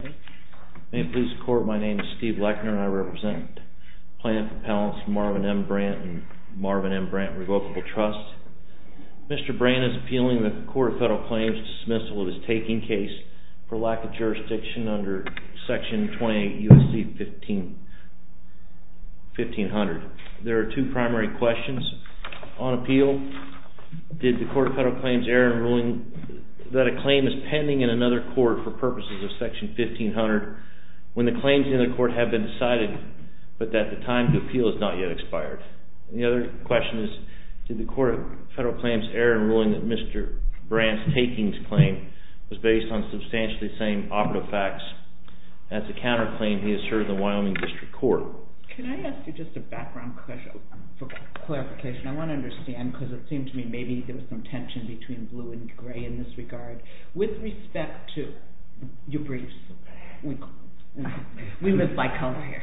May it please the Court, my name is Steve Lechner and I represent the plaintiff's appellants Marvin M. Brandt and Marvin M. Brandt Revocable Trust. Mr. Brandt is appealing the Court of Federal Claims dismissal of his taking case for lack of jurisdiction under Section 28 U.S.C. 1500. There are two primary questions. On appeal, did the Court of Federal Claims err in ruling that a claim is pending in another court for purposes of Section 1500 when the claims in the court have been decided but that the time to appeal has not yet expired? The other question is, did the Court of Federal Claims err in ruling that Mr. Brandt's taking claim was based on substantially the same operative facts as the counterclaim he asserted in the Wyoming District Court? Can I ask you just a background question for clarification? I want to understand because it seems to me maybe there was some tension between blue and gray in this regard. With respect to your briefs, we live by color here,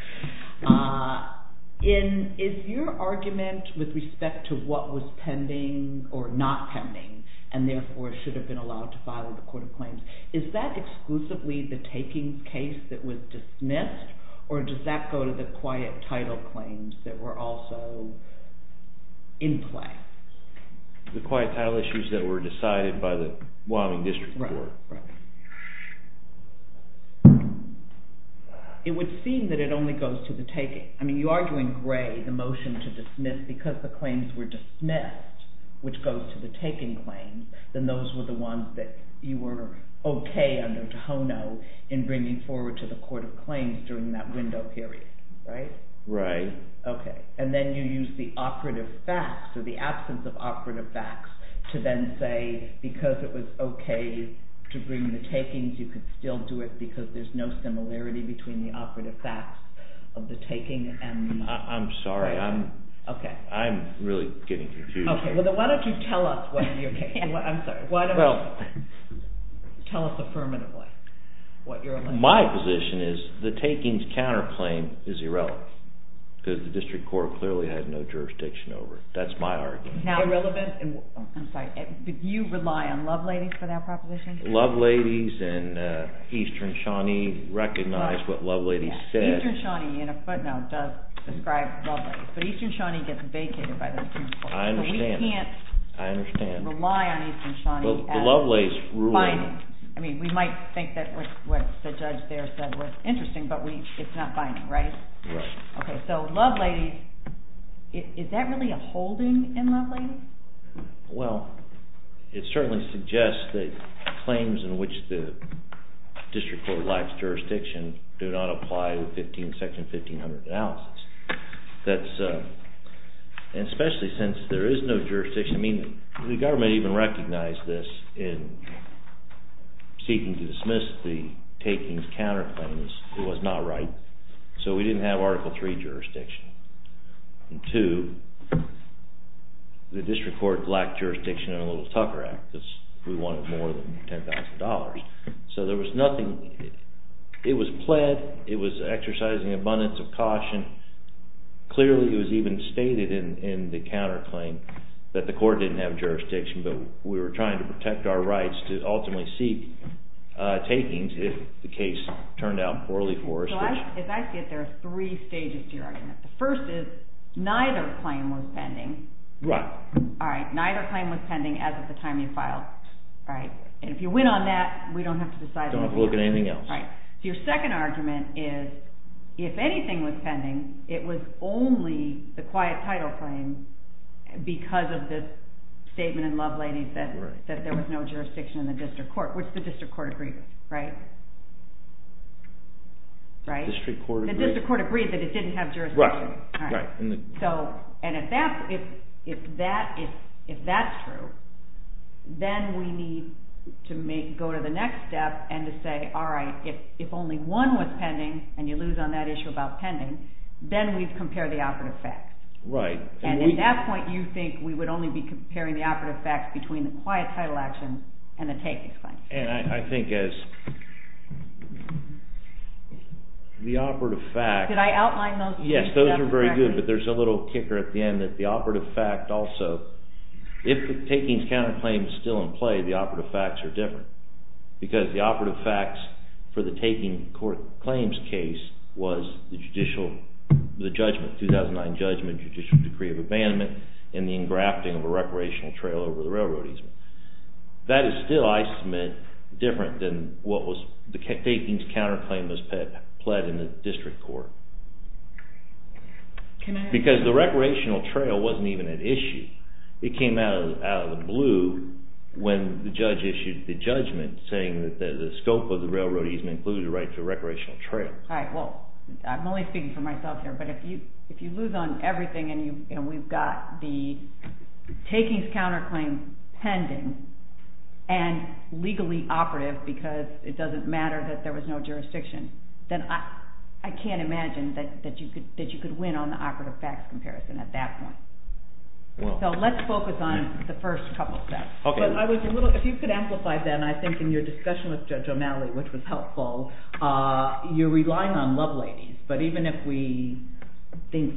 is your argument with respect to what was pending or not pending and therefore should have been allowed to file with the Court of Claims, is that exclusively the taking case that was dismissed or does that go to the quiet title claims that were also in play? The quiet title issues that were decided by the Wyoming District Court. It would seem that it only goes to the taking, I mean you are doing gray, the motion to dismiss because the claims were dismissed, which goes to the taking claims, then those were the ones that you were okay under Tohono in bringing forward to the Court of Claims during that window period, right? Right. Okay, and then you use the operative facts or the absence of operative facts to then say because it was okay to bring the takings, you could still do it because there is no similarity between the operative facts of the taking and... I'm sorry, I'm really getting confused here. Okay, well then why don't you tell us what your, I'm sorry, why don't you tell us affirmatively what your... My position is the takings counterclaim is irrelevant because the District Court clearly had no jurisdiction over it. That's my argument. Irrelevant? I'm sorry, did you rely on Love Ladies for that proposition? Love Ladies and Eastern Shawnee recognized what Love Ladies said. Eastern Shawnee in a footnote does describe Love Ladies, but Eastern Shawnee gets vacated by those two courts. I understand. So we can't... I understand.... rely on Eastern Shawnee as... Well, the Love Ladies ruled...... it's not binding. I mean, we might think that what the judge there said was interesting, but we, it's not binding, right? Right. Okay, so Love Ladies, is that really a holding in Love Ladies? Well, it certainly suggests that claims in which the District Court lacks jurisdiction do not apply with Section 1500 analysis. That's, and especially since there is no jurisdiction, I mean, the government even recognized this in seeking to dismiss the takings counterclaims, it was not right. So we didn't have Article III jurisdiction. And two, the District Court lacked jurisdiction in the Little Tucker Act, because we wanted more than $10,000. So there was nothing, it was pled, it was exercising abundance of caution. Clearly it was even stated in the counterclaim that the court didn't have jurisdiction, but we were trying to protect our rights to ultimately seek takings if the case turned out poorly for us. So as I see it, there are three stages to your argument. The first is, neither claim was pending. Right. All right. Neither claim was pending as of the time you filed. All right. And if you win on that, we don't have to decide on anything else. Don't have to look at anything else. Right. So your second argument is, if anything was pending, it was only the quiet title claim because of the statement in Lovelady's that there was no jurisdiction in the District Court. Which the District Court agreed with. Right? Right? The District Court agreed? The District Court agreed that it didn't have jurisdiction. Right. Right. All right. So, and if that's true, then we need to go to the next step and to say, all right, if only one was pending, and you lose on that issue about pending, then we've compared the operative facts. Right. And at that point, you think we would only be comparing the operative facts between the quiet title action and the takings claim. And I think as the operative facts... Did I outline those? Yes, those are very good, but there's a little kicker at the end that the operative fact also, if the takings counterclaim is still in play, the operative facts are different. Because the operative facts for the taking court claims case was the judicial, the judgment, the 2009 judgment, judicial decree of abandonment, and the engrafting of a recreational trail over the railroad easement. That is still, I submit, different than what was the takings counterclaim was pled in the District Court. Can I... Because the recreational trail wasn't even an issue. It came out of the blue when the judge issued the judgment saying that the scope of the railroad easement included the right to a recreational trail. All right, well, I'm only speaking for myself here, but if you lose on everything and we've got the takings counterclaim pending and legally operative because it doesn't matter that there was no jurisdiction, then I can't imagine that you could win on the operative facts comparison at that point. So let's focus on the first couple of steps. But I was a little... If you could amplify that, and I think in your discussion with Judge O'Malley, which was relying on loveladies, but even if we think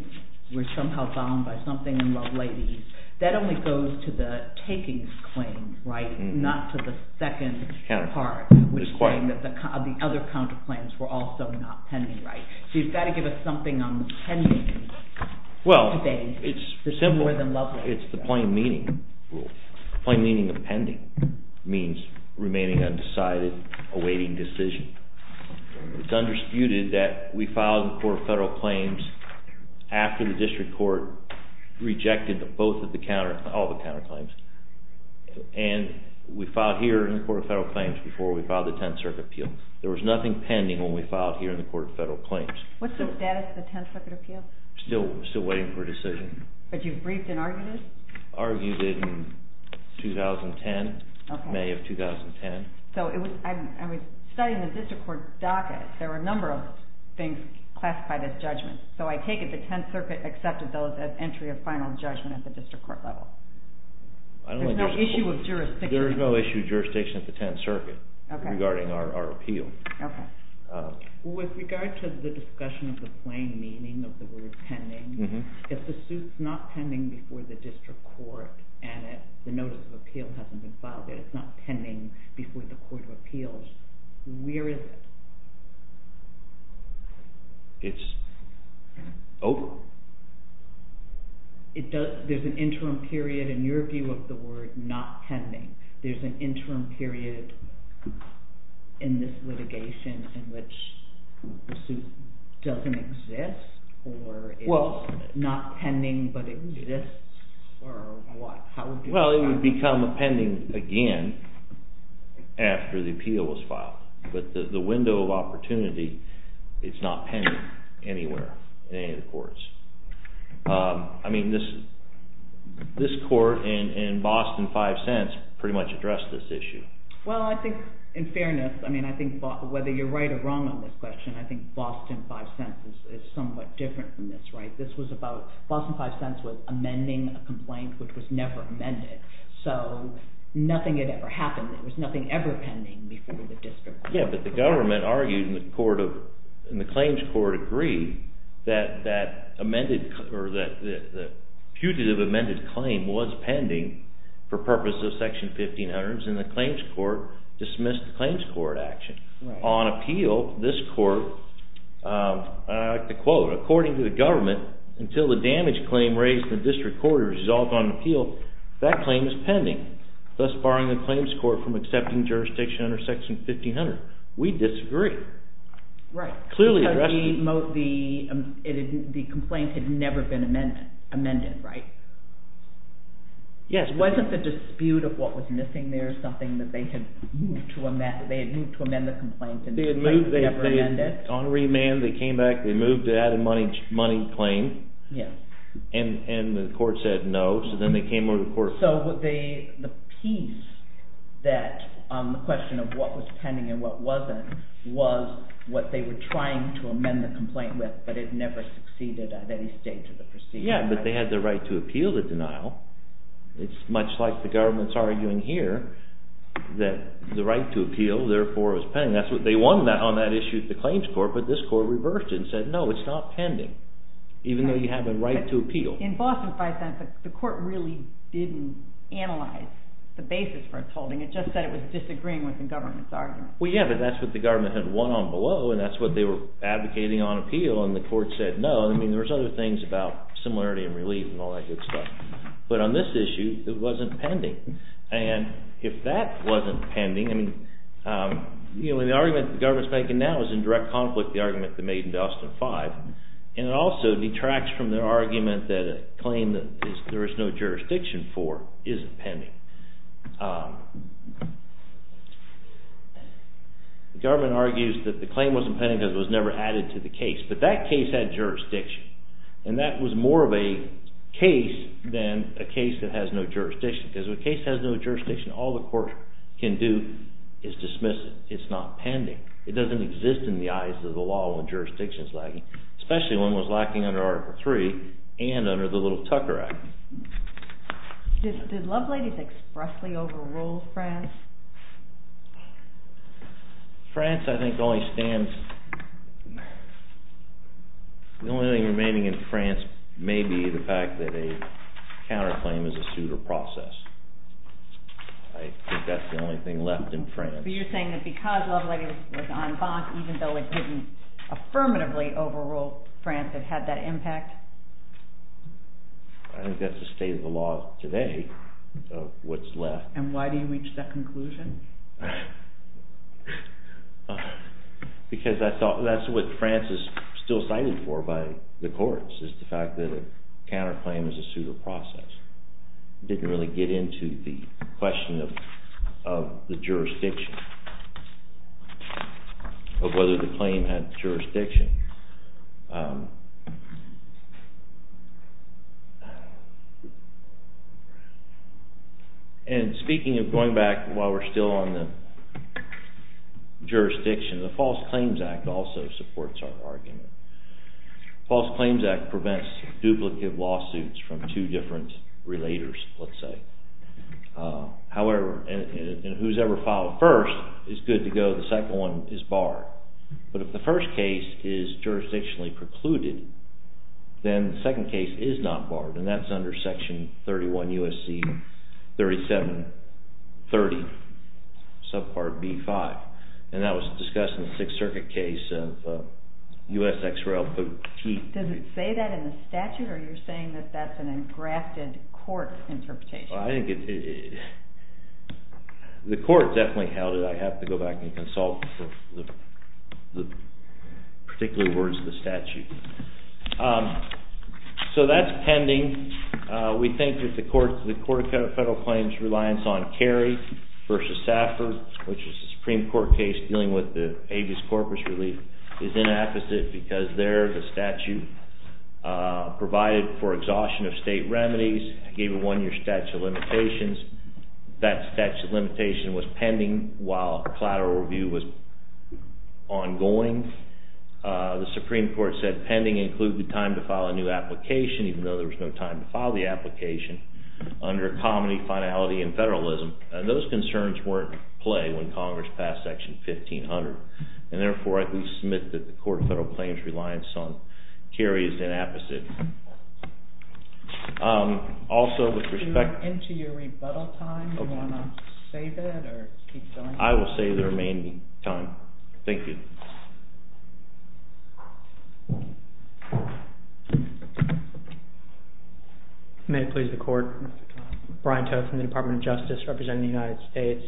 we're somehow bound by something in loveladies, that only goes to the takings claim, right, not to the second part, which is saying that the other counterclaims were also not pending, right? So you've got to give us something on the pending debate, more than loveladies. Well, it's the plain meaning rule. Plain meaning of pending means remaining undecided, awaiting decision. It's undisputed that we filed in the Court of Federal Claims after the district court rejected both of the counter... All the counterclaims. And we filed here in the Court of Federal Claims before we filed the Tenth Circuit Appeal. There was nothing pending when we filed here in the Court of Federal Claims. What's the status of the Tenth Circuit Appeal? Still waiting for a decision. But you've briefed and argued it? Argued it in 2010, May of 2010. Okay. So it was... I was studying the district court docket. There were a number of things classified as judgments. So I take it the Tenth Circuit accepted those as entry of final judgment at the district court level. I don't think... There's no issue of jurisdiction. There is no issue of jurisdiction at the Tenth Circuit regarding our appeal. Okay. With regard to the discussion of the plain meaning of the word pending, if the suit's not pending before the district court and the notice of appeal hasn't been filed yet, if it's not pending before the Court of Appeals, where is it? It's... Oh? It does... There's an interim period in your view of the word not pending. There's an interim period in this litigation in which the suit doesn't exist or it's not pending but it exists or what? How would you describe it? Well, it would become a pending again after the appeal was filed. But the window of opportunity, it's not pending anywhere in any of the courts. I mean, this court in Boston Five Cents pretty much addressed this issue. Well, I think in fairness, I mean, I think whether you're right or wrong on this question, I think Boston Five Cents is somewhat different from this, right? This was about... Boston Five Cents was amending a complaint which was never amended. So, nothing had ever happened. There was nothing ever pending before the district court. Yeah, but the government argued in the claims court agree that the putative amended claim was pending for purposes of Section 1500s and the claims court dismissed the claims court action. Right. Now, on appeal, this court, I like to quote, according to the government, until the damage claim raised in the district court is resolved on appeal, that claim is pending, thus barring the claims court from accepting jurisdiction under Section 1500. We disagree. Right. Clearly addressed... Because the complaint had never been amended, right? Yes. Wasn't the dispute of what was missing there something that they had moved to amend the claim? They had moved... They had remanded. On remand, they came back. They moved to add a money claim. Yeah. And the court said no, so then they came over to the court... So, the piece that... The question of what was pending and what wasn't was what they were trying to amend the complaint with, but it never succeeded at any stage of the proceedings, right? Yeah, but they had the right to appeal the denial. It's much like the government's arguing here that the right to appeal, therefore, is pending. They won on that issue at the claims court, but this court reversed it and said, no, it's not pending, even though you have a right to appeal. In Boston, for instance, the court really didn't analyze the basis for its holding. It just said it was disagreeing with the government's argument. Well, yeah, but that's what the government had won on below, and that's what they were advocating on appeal, and the court said no. I mean, there was other things about similarity and relief and all that good stuff, but on this issue, it wasn't pending. And if that wasn't pending... I mean, the argument the government's making now is in direct conflict with the argument they made in Boston 5, and it also detracts from their argument that a claim that there is no jurisdiction for isn't pending. The government argues that the claim wasn't pending because it was never added to the case, but that case had jurisdiction, and that was more of a case than a case that has no jurisdiction. Because if a case has no jurisdiction, all the court can do is dismiss it. It's not pending. It doesn't exist in the eyes of the law when jurisdiction's lacking, especially when it was lacking under Article 3 and under the Little Tucker Act. Did Lovelady's expressly overrule France? France, I think, only stands... The only remaining in France may be the fact that a counterclaim is a suit or process. I think that's the only thing left in France. So you're saying that because Lovelady was en banc, even though it didn't affirmatively overrule France, it had that impact? I think that's the state of the law today, of what's left. And why do you reach that conclusion? Because that's what France is still cited for by the courts, is the fact that a counterclaim is a suit or process. It didn't really get into the question of the jurisdiction, of whether the claim had jurisdiction. And speaking of going back, while we're still on the jurisdiction, the False Claims Act also supports our argument. The False Claims Act prevents duplicate lawsuits from two different relators, let's say. However, and who's ever filed first is good to go. The second one is barred. But if the first case is a counterclaim, and it is jurisdictionally precluded, then the second case is not barred. And that's under Section 31 U.S.C. 3730, subpart B-5. And that was discussed in the Sixth Circuit case of U.S. X-Rail fatigue. Does it say that in the statute? Or are you saying that that's an engrafted court interpretation? The court definitely held it. I have to go back and consult the particular words of the statute. So that's pending. We think that the Court of Federal Claims' reliance on Carey v. Saffer, which is a Supreme Court case dealing with the habeas corpus relief, is inefficient because there the statute provided for exhaustion of state remedies, gave a one-year statute of limitations. That statute of limitation was pending while collateral review was ongoing. The Supreme Court said pending included the time to file a new application, even though there was no time to file the application, under comity, finality, and federalism. Those concerns weren't in play when Congress passed Section 1500. And therefore, I can submit that the Court of Federal Claims' reliance on Carey is inefficient. Also, with respect to... We are into your rebuttal time. Do you want to save it or keep going? I will save the remaining time. Thank you. May it please the Court. Brian Toth from the Department of Justice, representing the United States.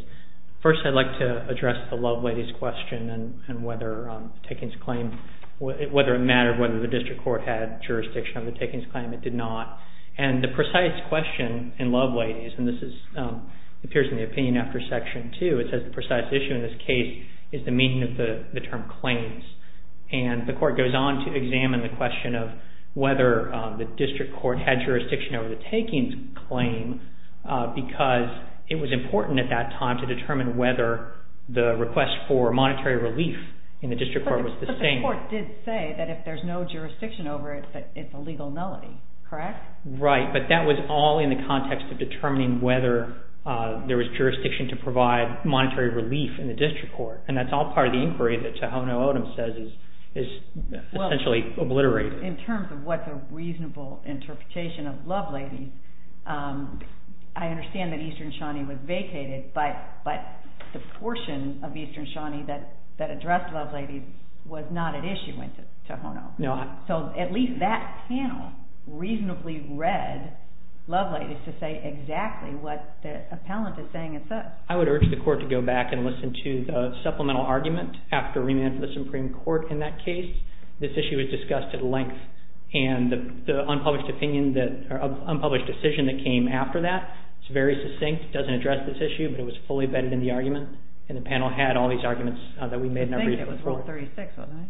First, I'd like to address the Lovelady's question and whether taking this claim, whether it mattered whether the District Court had jurisdiction over the takings claim. It did not. And the precise question in Lovelady's, and this appears in the opinion after Section 2, it says the precise issue in this case is the meaning of the term claims. And the Court goes on to examine the question of whether the District Court had jurisdiction over the takings claim, because it was important at that time to determine whether the request for monetary relief in the District Court was the same. But the Court did say that if there's no jurisdiction over it, that it's a legal nullity, correct? Right, but that was all in the context of determining whether there was jurisdiction to provide monetary relief in the District Court. And that's all part of the inquiry that Tohono O'odham says is essentially obliterated. In terms of what's a reasonable interpretation of Lovelady, I understand that Eastern Shawnee was vacated, but the portion of Eastern Shawnee that addressed Lovelady was not at issue in Tohono. So at least that panel reasonably read Lovelady to say exactly what the appellant is saying it says. I would urge the Court to go back and listen to the supplemental argument after remand for the Supreme Court in that case. This issue was discussed at length, and the unpublished decision that came after that is very succinct. It doesn't address this issue, but it was fully vetted in the argument, and the panel had all these arguments that we made not reasonable for it. I think it was Rule 36, wasn't it?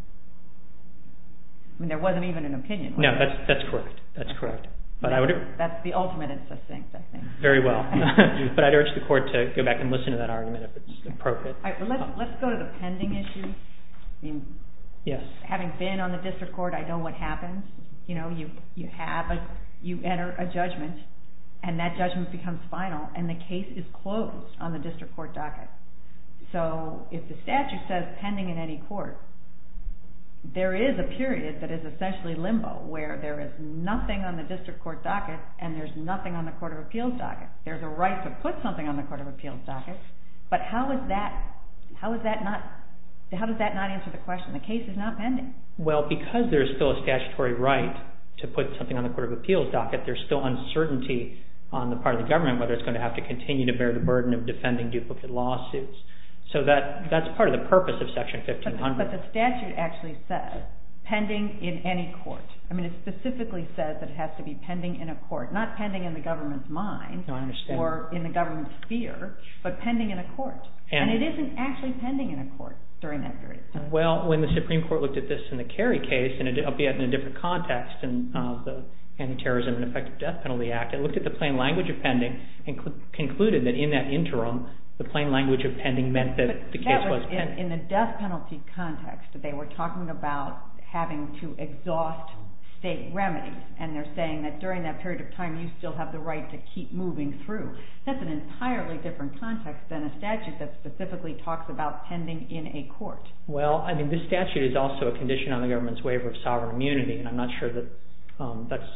I mean, there wasn't even an opinion. No, that's correct. That's the ultimate in succinct, I think. Very well. But I'd urge the Court to go back and listen to that argument if it's appropriate. Let's go to the pending issue. Having been on the District Court, I know what happens. You enter a judgment, and that judgment becomes final, and the case is closed on the District Court docket. So if the statute says pending in any court, there is a period that is essentially limbo where there is nothing on the District Court docket, and there's nothing on the Court of Appeals docket. There's a right to put something on the Court of Appeals docket, but how does that not answer the question? The case is not pending. Well, because there's still a statutory right to put something on the Court of Appeals docket, there's still uncertainty on the part of the government whether it's going to have to continue to bear the burden of defending duplicate lawsuits. So that's part of the purpose of Section 1500. But the statute actually says pending in any court. I mean, it specifically says that it has to be pending in a court, not pending in the government's mind or in the government's sphere, but pending in a court. And it isn't actually pending in a court during that period. Well, when the Supreme Court looked at this in the Kerry case, albeit in a different context, in the Anti-Terrorism and Effective Death Penalty Act, they looked at the plain language of pending and concluded that in that interim, the plain language of pending meant that the case was pending. But that was in the death penalty context. They were talking about having to exhaust state remedies, and they're saying that during that period of time you still have the right to keep moving through. That's an entirely different context than a statute that specifically talks about pending in a court. Well, I mean, this statute is also a condition on the government's waiver of sovereign immunity, and I'm not sure that that's...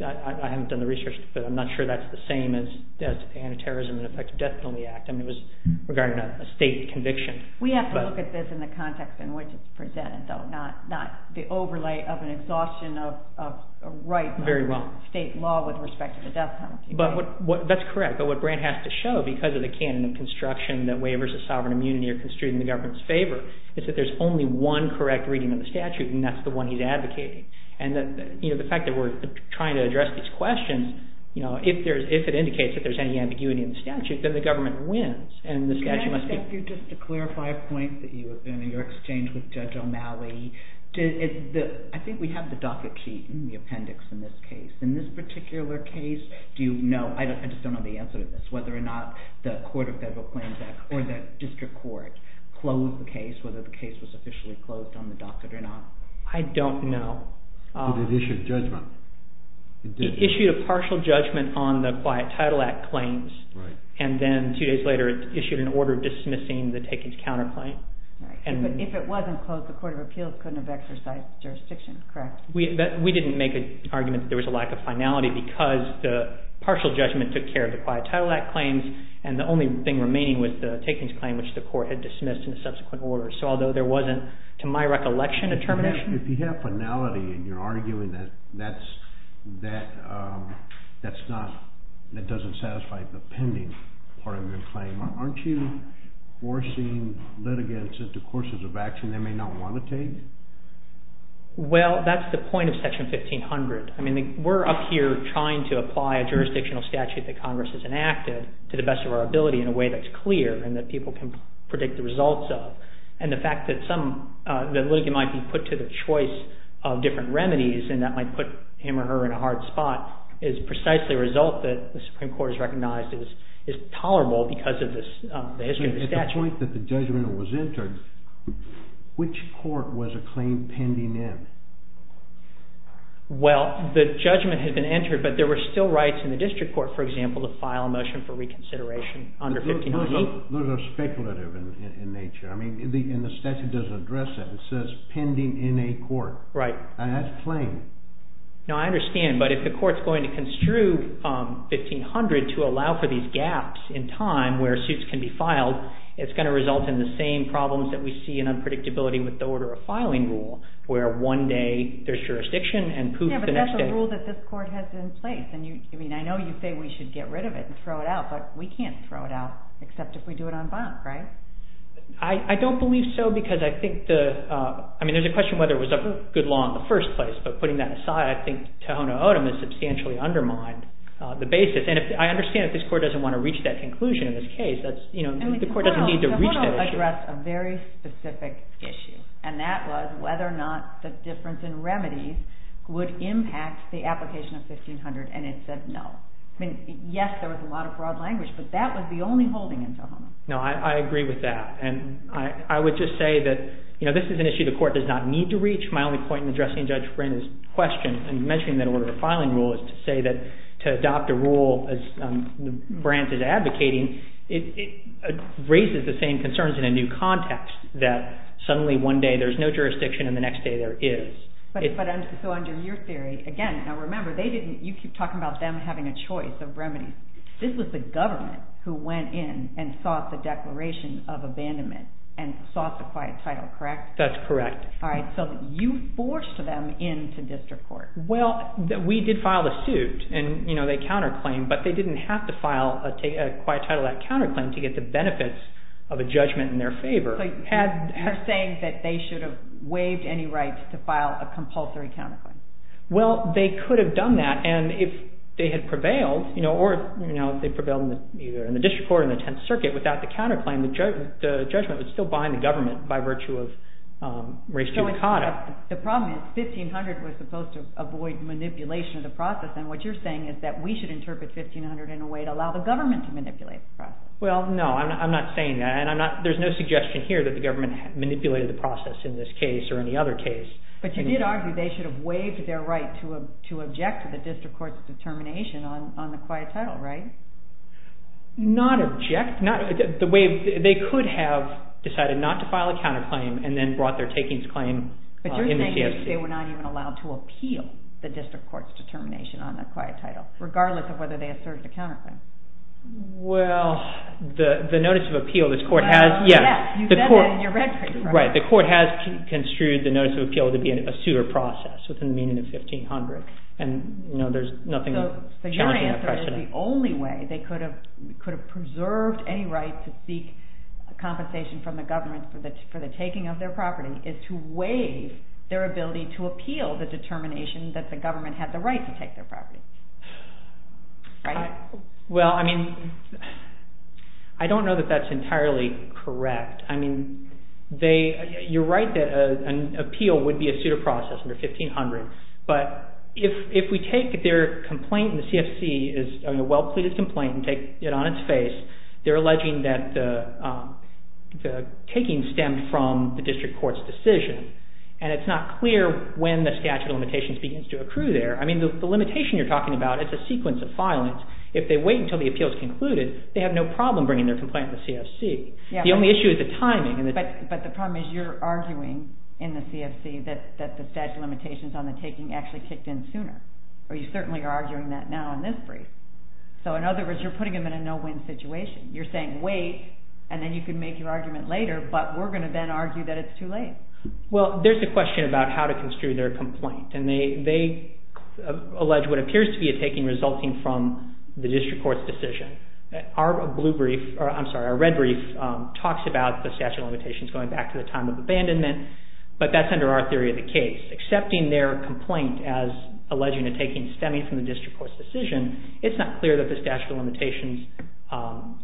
I haven't done the research, but I'm not sure that's the same as the Anti-Terrorism and Effective Death Penalty Act. I mean, it was regarding a state conviction. We have to look at this in the context in which it's presented, though, not the overlay of an exhaustion of a right by state law with respect to the death penalty. But that's correct. But what Grant has to show, because of the canon of construction that waivers of sovereign immunity are construed in the government's favor, is that there's only one correct reading of the statute, and that's the one he's advocating. And the fact that we're trying to address these questions, if it indicates that there's any ambiguity in the statute, then the government wins, and the statute must be... Can I ask you just to clarify a point in your exchange with Judge O'Malley? I think we have the docket sheet in the appendix in this case. In this particular case, do you know... I just don't know the answer to this, whether or not the Court of Federal Claims Act or the district court closed the case, whether the case was officially closed on the docket or not. I don't know. But it issued judgment. It issued a partial judgment on the Quiet Title Act claims. And then two days later, it issued an order dismissing the takings counterclaim. But if it wasn't closed, the Court of Appeals couldn't have exercised jurisdiction, correct? We didn't make an argument that there was a lack of finality because the partial judgment took care of the Quiet Title Act claims, and the only thing remaining was the takings claim, which the Court had dismissed in subsequent orders. So although there wasn't, to my recollection, a termination... If you have finality and you're arguing that that's not... that doesn't satisfy the pending part of your claim, aren't you forcing litigants into courses of action they may not want to take? Well, that's the point of Section 1500. I mean, we're up here trying to apply a jurisdictional statute that Congress has enacted to the best of our ability in a way that's clear and that people can predict the results of. And the fact that some... that a litigant might be put to the choice of different remedies and that might put him or her in a hard spot is precisely a result that the Supreme Court has recognized is tolerable because of the history of the statute. At the point that the judgment was entered, which court was a claim pending in? Well, the judgment had been entered, but there were still rights in the district court, for example, to file a motion for reconsideration under 1500. Those are speculative in nature. I mean, and the statute doesn't address that. It says pending in a court. Right. And that's plain. No, I understand. But if the court's going to construe 1500 to allow for these gaps in time where suits can be filed, it's going to result in the same problems that we see in unpredictability with the order of filing rule where one day there's jurisdiction and poof, the next day... Yeah, but that's a rule that this court has in place. I mean, I know you say we should get rid of it and throw it out, but we can't throw it out except if we do it on bond, right? I don't believe so because I think the... I mean, there's a question whether it was a good law in the first place, but putting that aside, I think Tehono O'odham has substantially undermined the basis. And I understand if this court doesn't want to reach that conclusion in this case, the court doesn't need to reach that issue. Tehono addressed a very specific issue, and that was whether or not the difference in remedies would impact the application of 1500, and it said no. I mean, yes, there was a lot of broad language, but that was the only holding in Tehono. No, I agree with that. And I would just say that, you know, this is an issue the court does not need to reach. My only point in addressing Judge Brin's question in mentioning that order of filing rule is to say that to adopt a rule as the branch is advocating, it raises the same concerns in a new context that suddenly one day there's no jurisdiction and the next day there is. So under your theory, again, now remember, you keep talking about them having a choice of remedies. This was the government who went in and sought the declaration of abandonment and sought the quiet title, correct? That's correct. All right, so you forced them into district court. Well, we did file the suit, and, you know, they counterclaimed, but they didn't have to file a quiet title, that counterclaim, to get the benefits of a judgment in their favor. So you're saying that they should have waived any rights to file a compulsory counterclaim. Well, they could have done that, and if they had prevailed, you know, or, you know, if they prevailed in the district court or the Tenth Circuit without the counterclaim, the judgment would still bind the government by virtue of res judicata. The problem is 1500 was supposed to avoid manipulation of the process, and what you're saying is that we should interpret 1500 in a way to allow the government to manipulate the process. Well, no, I'm not saying that, and there's no suggestion here that the government manipulated the process in this case or any other case. But you did argue they should have waived their right to object to the district court's determination on the quiet title, right? Not object... They could have decided not to file a counterclaim and then brought their takings claim in the CFC. But you're saying that they were not even allowed to appeal the district court's determination on the quiet title, regardless of whether they asserted a counterclaim. Well, the notice of appeal this court has... Yes, you said that in your record. Right, the court has construed the notice of appeal to be a suitor process within the meaning of 1500, and there's nothing challenging that question. So your answer is the only way they could have preserved any right to seek compensation from the government for the taking of their property is to waive their ability to appeal the determination that the government had the right to take their property. Right? Well, I mean, I don't know that that's entirely correct. I mean, you're right that an appeal would be a suitor process under 1500. But if we take their complaint in the CFC, a well-pleaded complaint, and take it on its face, they're alleging that the taking stemmed from the district court's decision, and it's not clear when the statute of limitations begins to accrue there. I mean, the limitation you're talking about is a sequence of filings. If they wait until the appeal is concluded, they have no problem bringing their complaint in the CFC. The only issue is the timing. But the problem is you're arguing in the CFC that the statute of limitations on the taking actually kicked in sooner, or you certainly are arguing that now in this brief. So in other words, you're putting them in a no-win situation. You're saying, wait, and then you can make your argument later, but we're going to then argue that it's too late. Well, there's a question about how to construe their complaint, and they allege what appears to be a taking resulting from the district court's decision. Our red brief talks about the statute of limitations going back to the time of abandonment, but that's under our theory of the case. Accepting their complaint as alleging a taking stemming from the district court's decision, it's not clear that the statute of limitations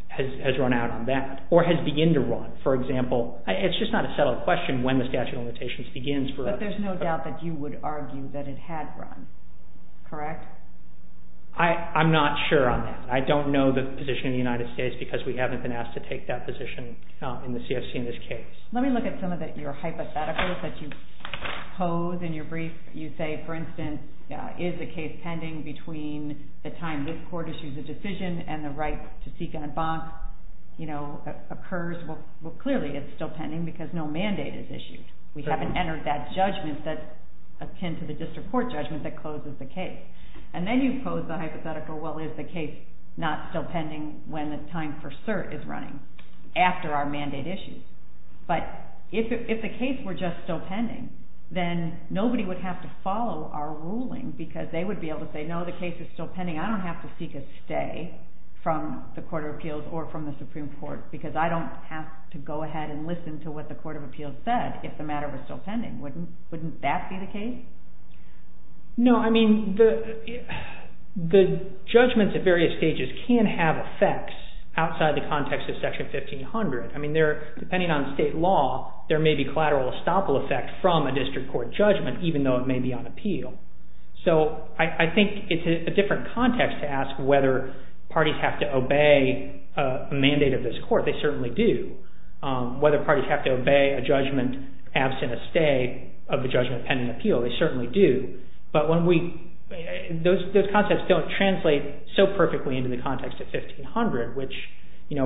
has run out on that or has begun to run. For example, it's just not a settled question when the statute of limitations begins. But there's no doubt that you would argue that it had run, correct? I'm not sure on that. I don't know the position in the United States because we haven't been asked to take that position in the CFC in this case. Let me look at some of your hypotheticals that you pose in your brief. You say, for instance, is the case pending between the time this court issues a decision and the right to seek and embank occurs? Well, clearly it's still pending because no mandate is issued. We haven't entered that judgment that's akin to the district court judgment that closes the case. And then you pose the hypothetical, well, is the case not still pending when the time for cert is running after our mandate issue? But if the case were just still pending, then nobody would have to follow our ruling because they would be able to say, no, the case is still pending. I don't have to seek a stay from the Court of Appeals or from the Supreme Court because I don't have to go ahead and listen to what the Court of Appeals said if the matter were still pending. Wouldn't that be the case? No, I mean, the judgments at various stages can have effects outside the context of Section 1500. I mean, depending on state law, there may be collateral estoppel effect from a district court judgment even though it may be on appeal. So I think it's a different context to ask whether parties have to obey a mandate of this court. They certainly do. Whether parties have to obey a judgment absent a stay of the judgment pending appeal, they certainly do. But when we... Those concepts don't translate so perfectly into the context of 1500, which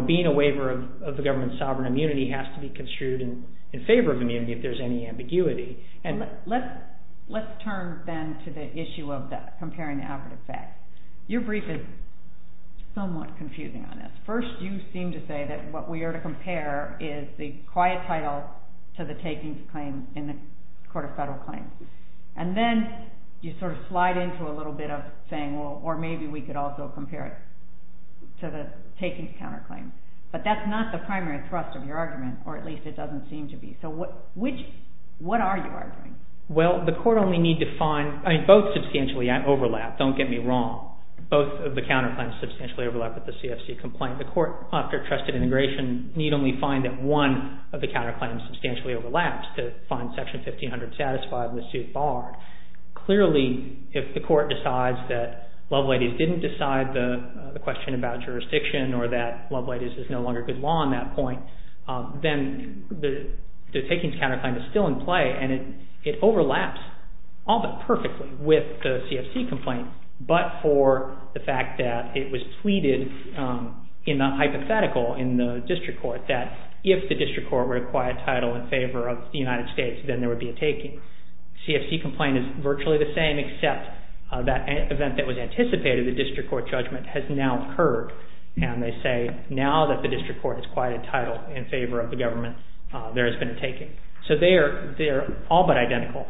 being a waiver of the government's sovereign immunity has to be construed in favor of immunity if there's any ambiguity. Let's turn then to the issue of comparing the average effect. Your brief is somewhat confusing on this. First, you seem to say that what we are to compare is the quiet title to the takings claim in the Court of Federal Claims. And then you sort of slide into a little bit of saying, well, or maybe we could also compare it to the takings counterclaim. But that's not the primary thrust of your argument, or at least it doesn't seem to be. So what are you arguing? Well, the court only need to find... I mean, both substantially overlap. Don't get me wrong. Both of the counterclaims substantially overlap with the CFC complaint. The court, after trusted integration, need only find that one of the counterclaims substantially overlaps to find section 1500 satisfied in the suit barred. Clearly, if the court decides that Loveladies didn't decide the question about jurisdiction or that Loveladies is no longer good law on that point, then the takings counterclaim is still in play. And it overlaps all but perfectly with the CFC complaint, but for the fact that it was tweeted in the hypothetical in the district court that if the district court were to quiet title in favor of the United States, then there would be a taking. CFC complaint is virtually the same, except that event that was anticipated, the district court judgment, has now occurred. And they say, now that the district court has quieted title in favor of the government, there has been a taking. So they are all but identical.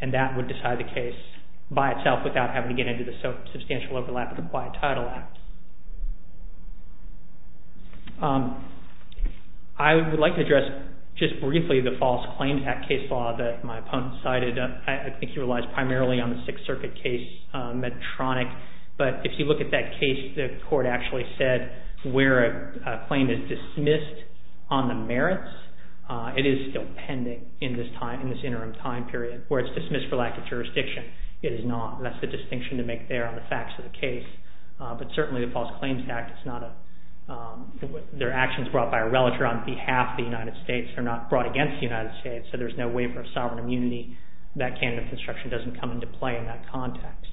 And that would decide the case by itself without having to get into the substantial overlap of the quiet title act. I would like to address just briefly the false claims act case law that my opponent cited. I think he relies primarily on the Sixth Circuit case Medtronic. But if you look at that case, the court actually said where a claim is dismissed on the merits, it is still pending in this interim time period, where it's dismissed for lack of jurisdiction. It is not. That's the distinction to make there on the facts of the case. But certainly the False Claims Act, it's not a, their actions brought by a relative on behalf of the United States are not brought against the United States. So there's no waiver of sovereign immunity. That candidate construction doesn't come into play in that context.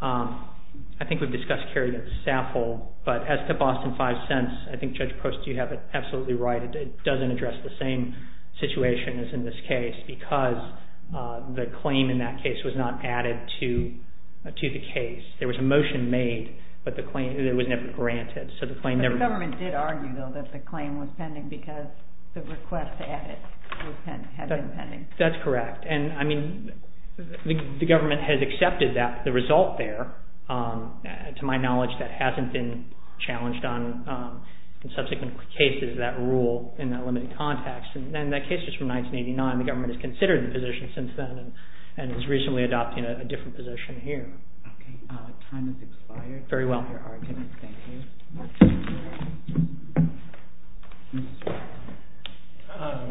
I think we've discussed Kerrigan-Saffold. But as to Boston 5 cents, I think Judge Post, you have it absolutely right. It doesn't address the same situation as in this case because the claim in that case was not added to the case. There was a motion made, but the claim, it was never granted. So the claim never- But the government did argue, though, that the claim was pending because the request added had been pending. That's correct. And I mean, the government has accepted that. The result there, to my knowledge, that hasn't been challenged on subsequent cases that rule in that limited context. And that case is from 1989. The government has considered the position since then and has recently adopted a different position here. OK. Time has expired. Very well. Thank you.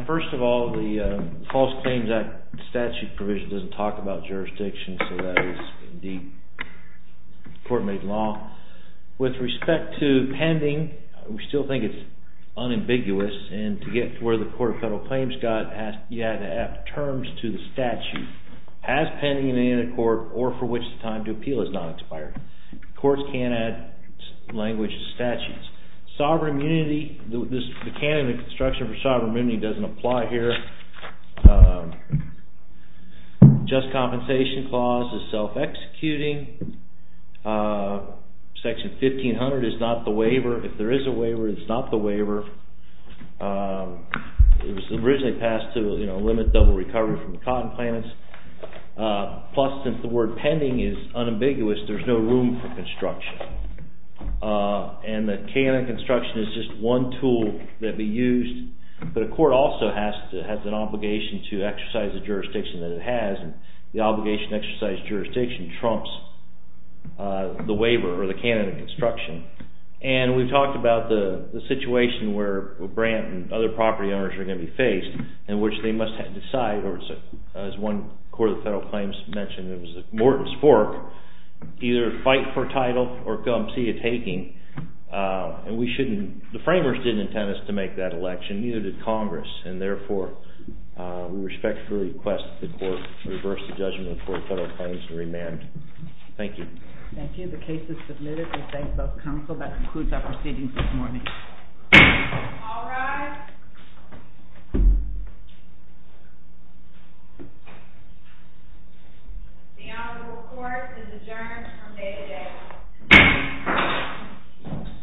First of all, the False Claims Act statute provision doesn't talk about jurisdiction. So that is, indeed, court-made law. With respect to pending, we still think it's unambiguous. And to get to where the Court of Federal Claims got, you had to add terms to the statute. Has pending in any other court, or for which the time to appeal has not expired. Courts can't add language to statutes. Sovereign immunity, the canon of construction for sovereign immunity doesn't apply here. Just Compensation Clause is self-executing. Section 1500 is not the waiver. If there is a waiver, it's not the waiver. It was originally passed to, you know, limit double recovery from the cotton plants. Plus, since the word pending is unambiguous, there's no room for construction. And the canon of construction is just one tool that we used. But a court also has an obligation to exercise the jurisdiction that it has. And the obligation to exercise jurisdiction trumps the waiver or the canon of construction. And we've talked about the situation where Brant and other property owners are going to be faced, in which they must decide, or as one Court of Federal Claims mentioned, it was Morton's fork, either fight for title or come see a taking. And we shouldn't, the framers didn't intend us to make that election, neither did Congress, and therefore we respectfully request that the Court reverse the judgment of the Court of Federal Claims and remand. Thank you. Thank you. The case is submitted. We thank both counsel. That concludes our proceedings this morning. All rise. The Honorable Court is adjourned from day to day.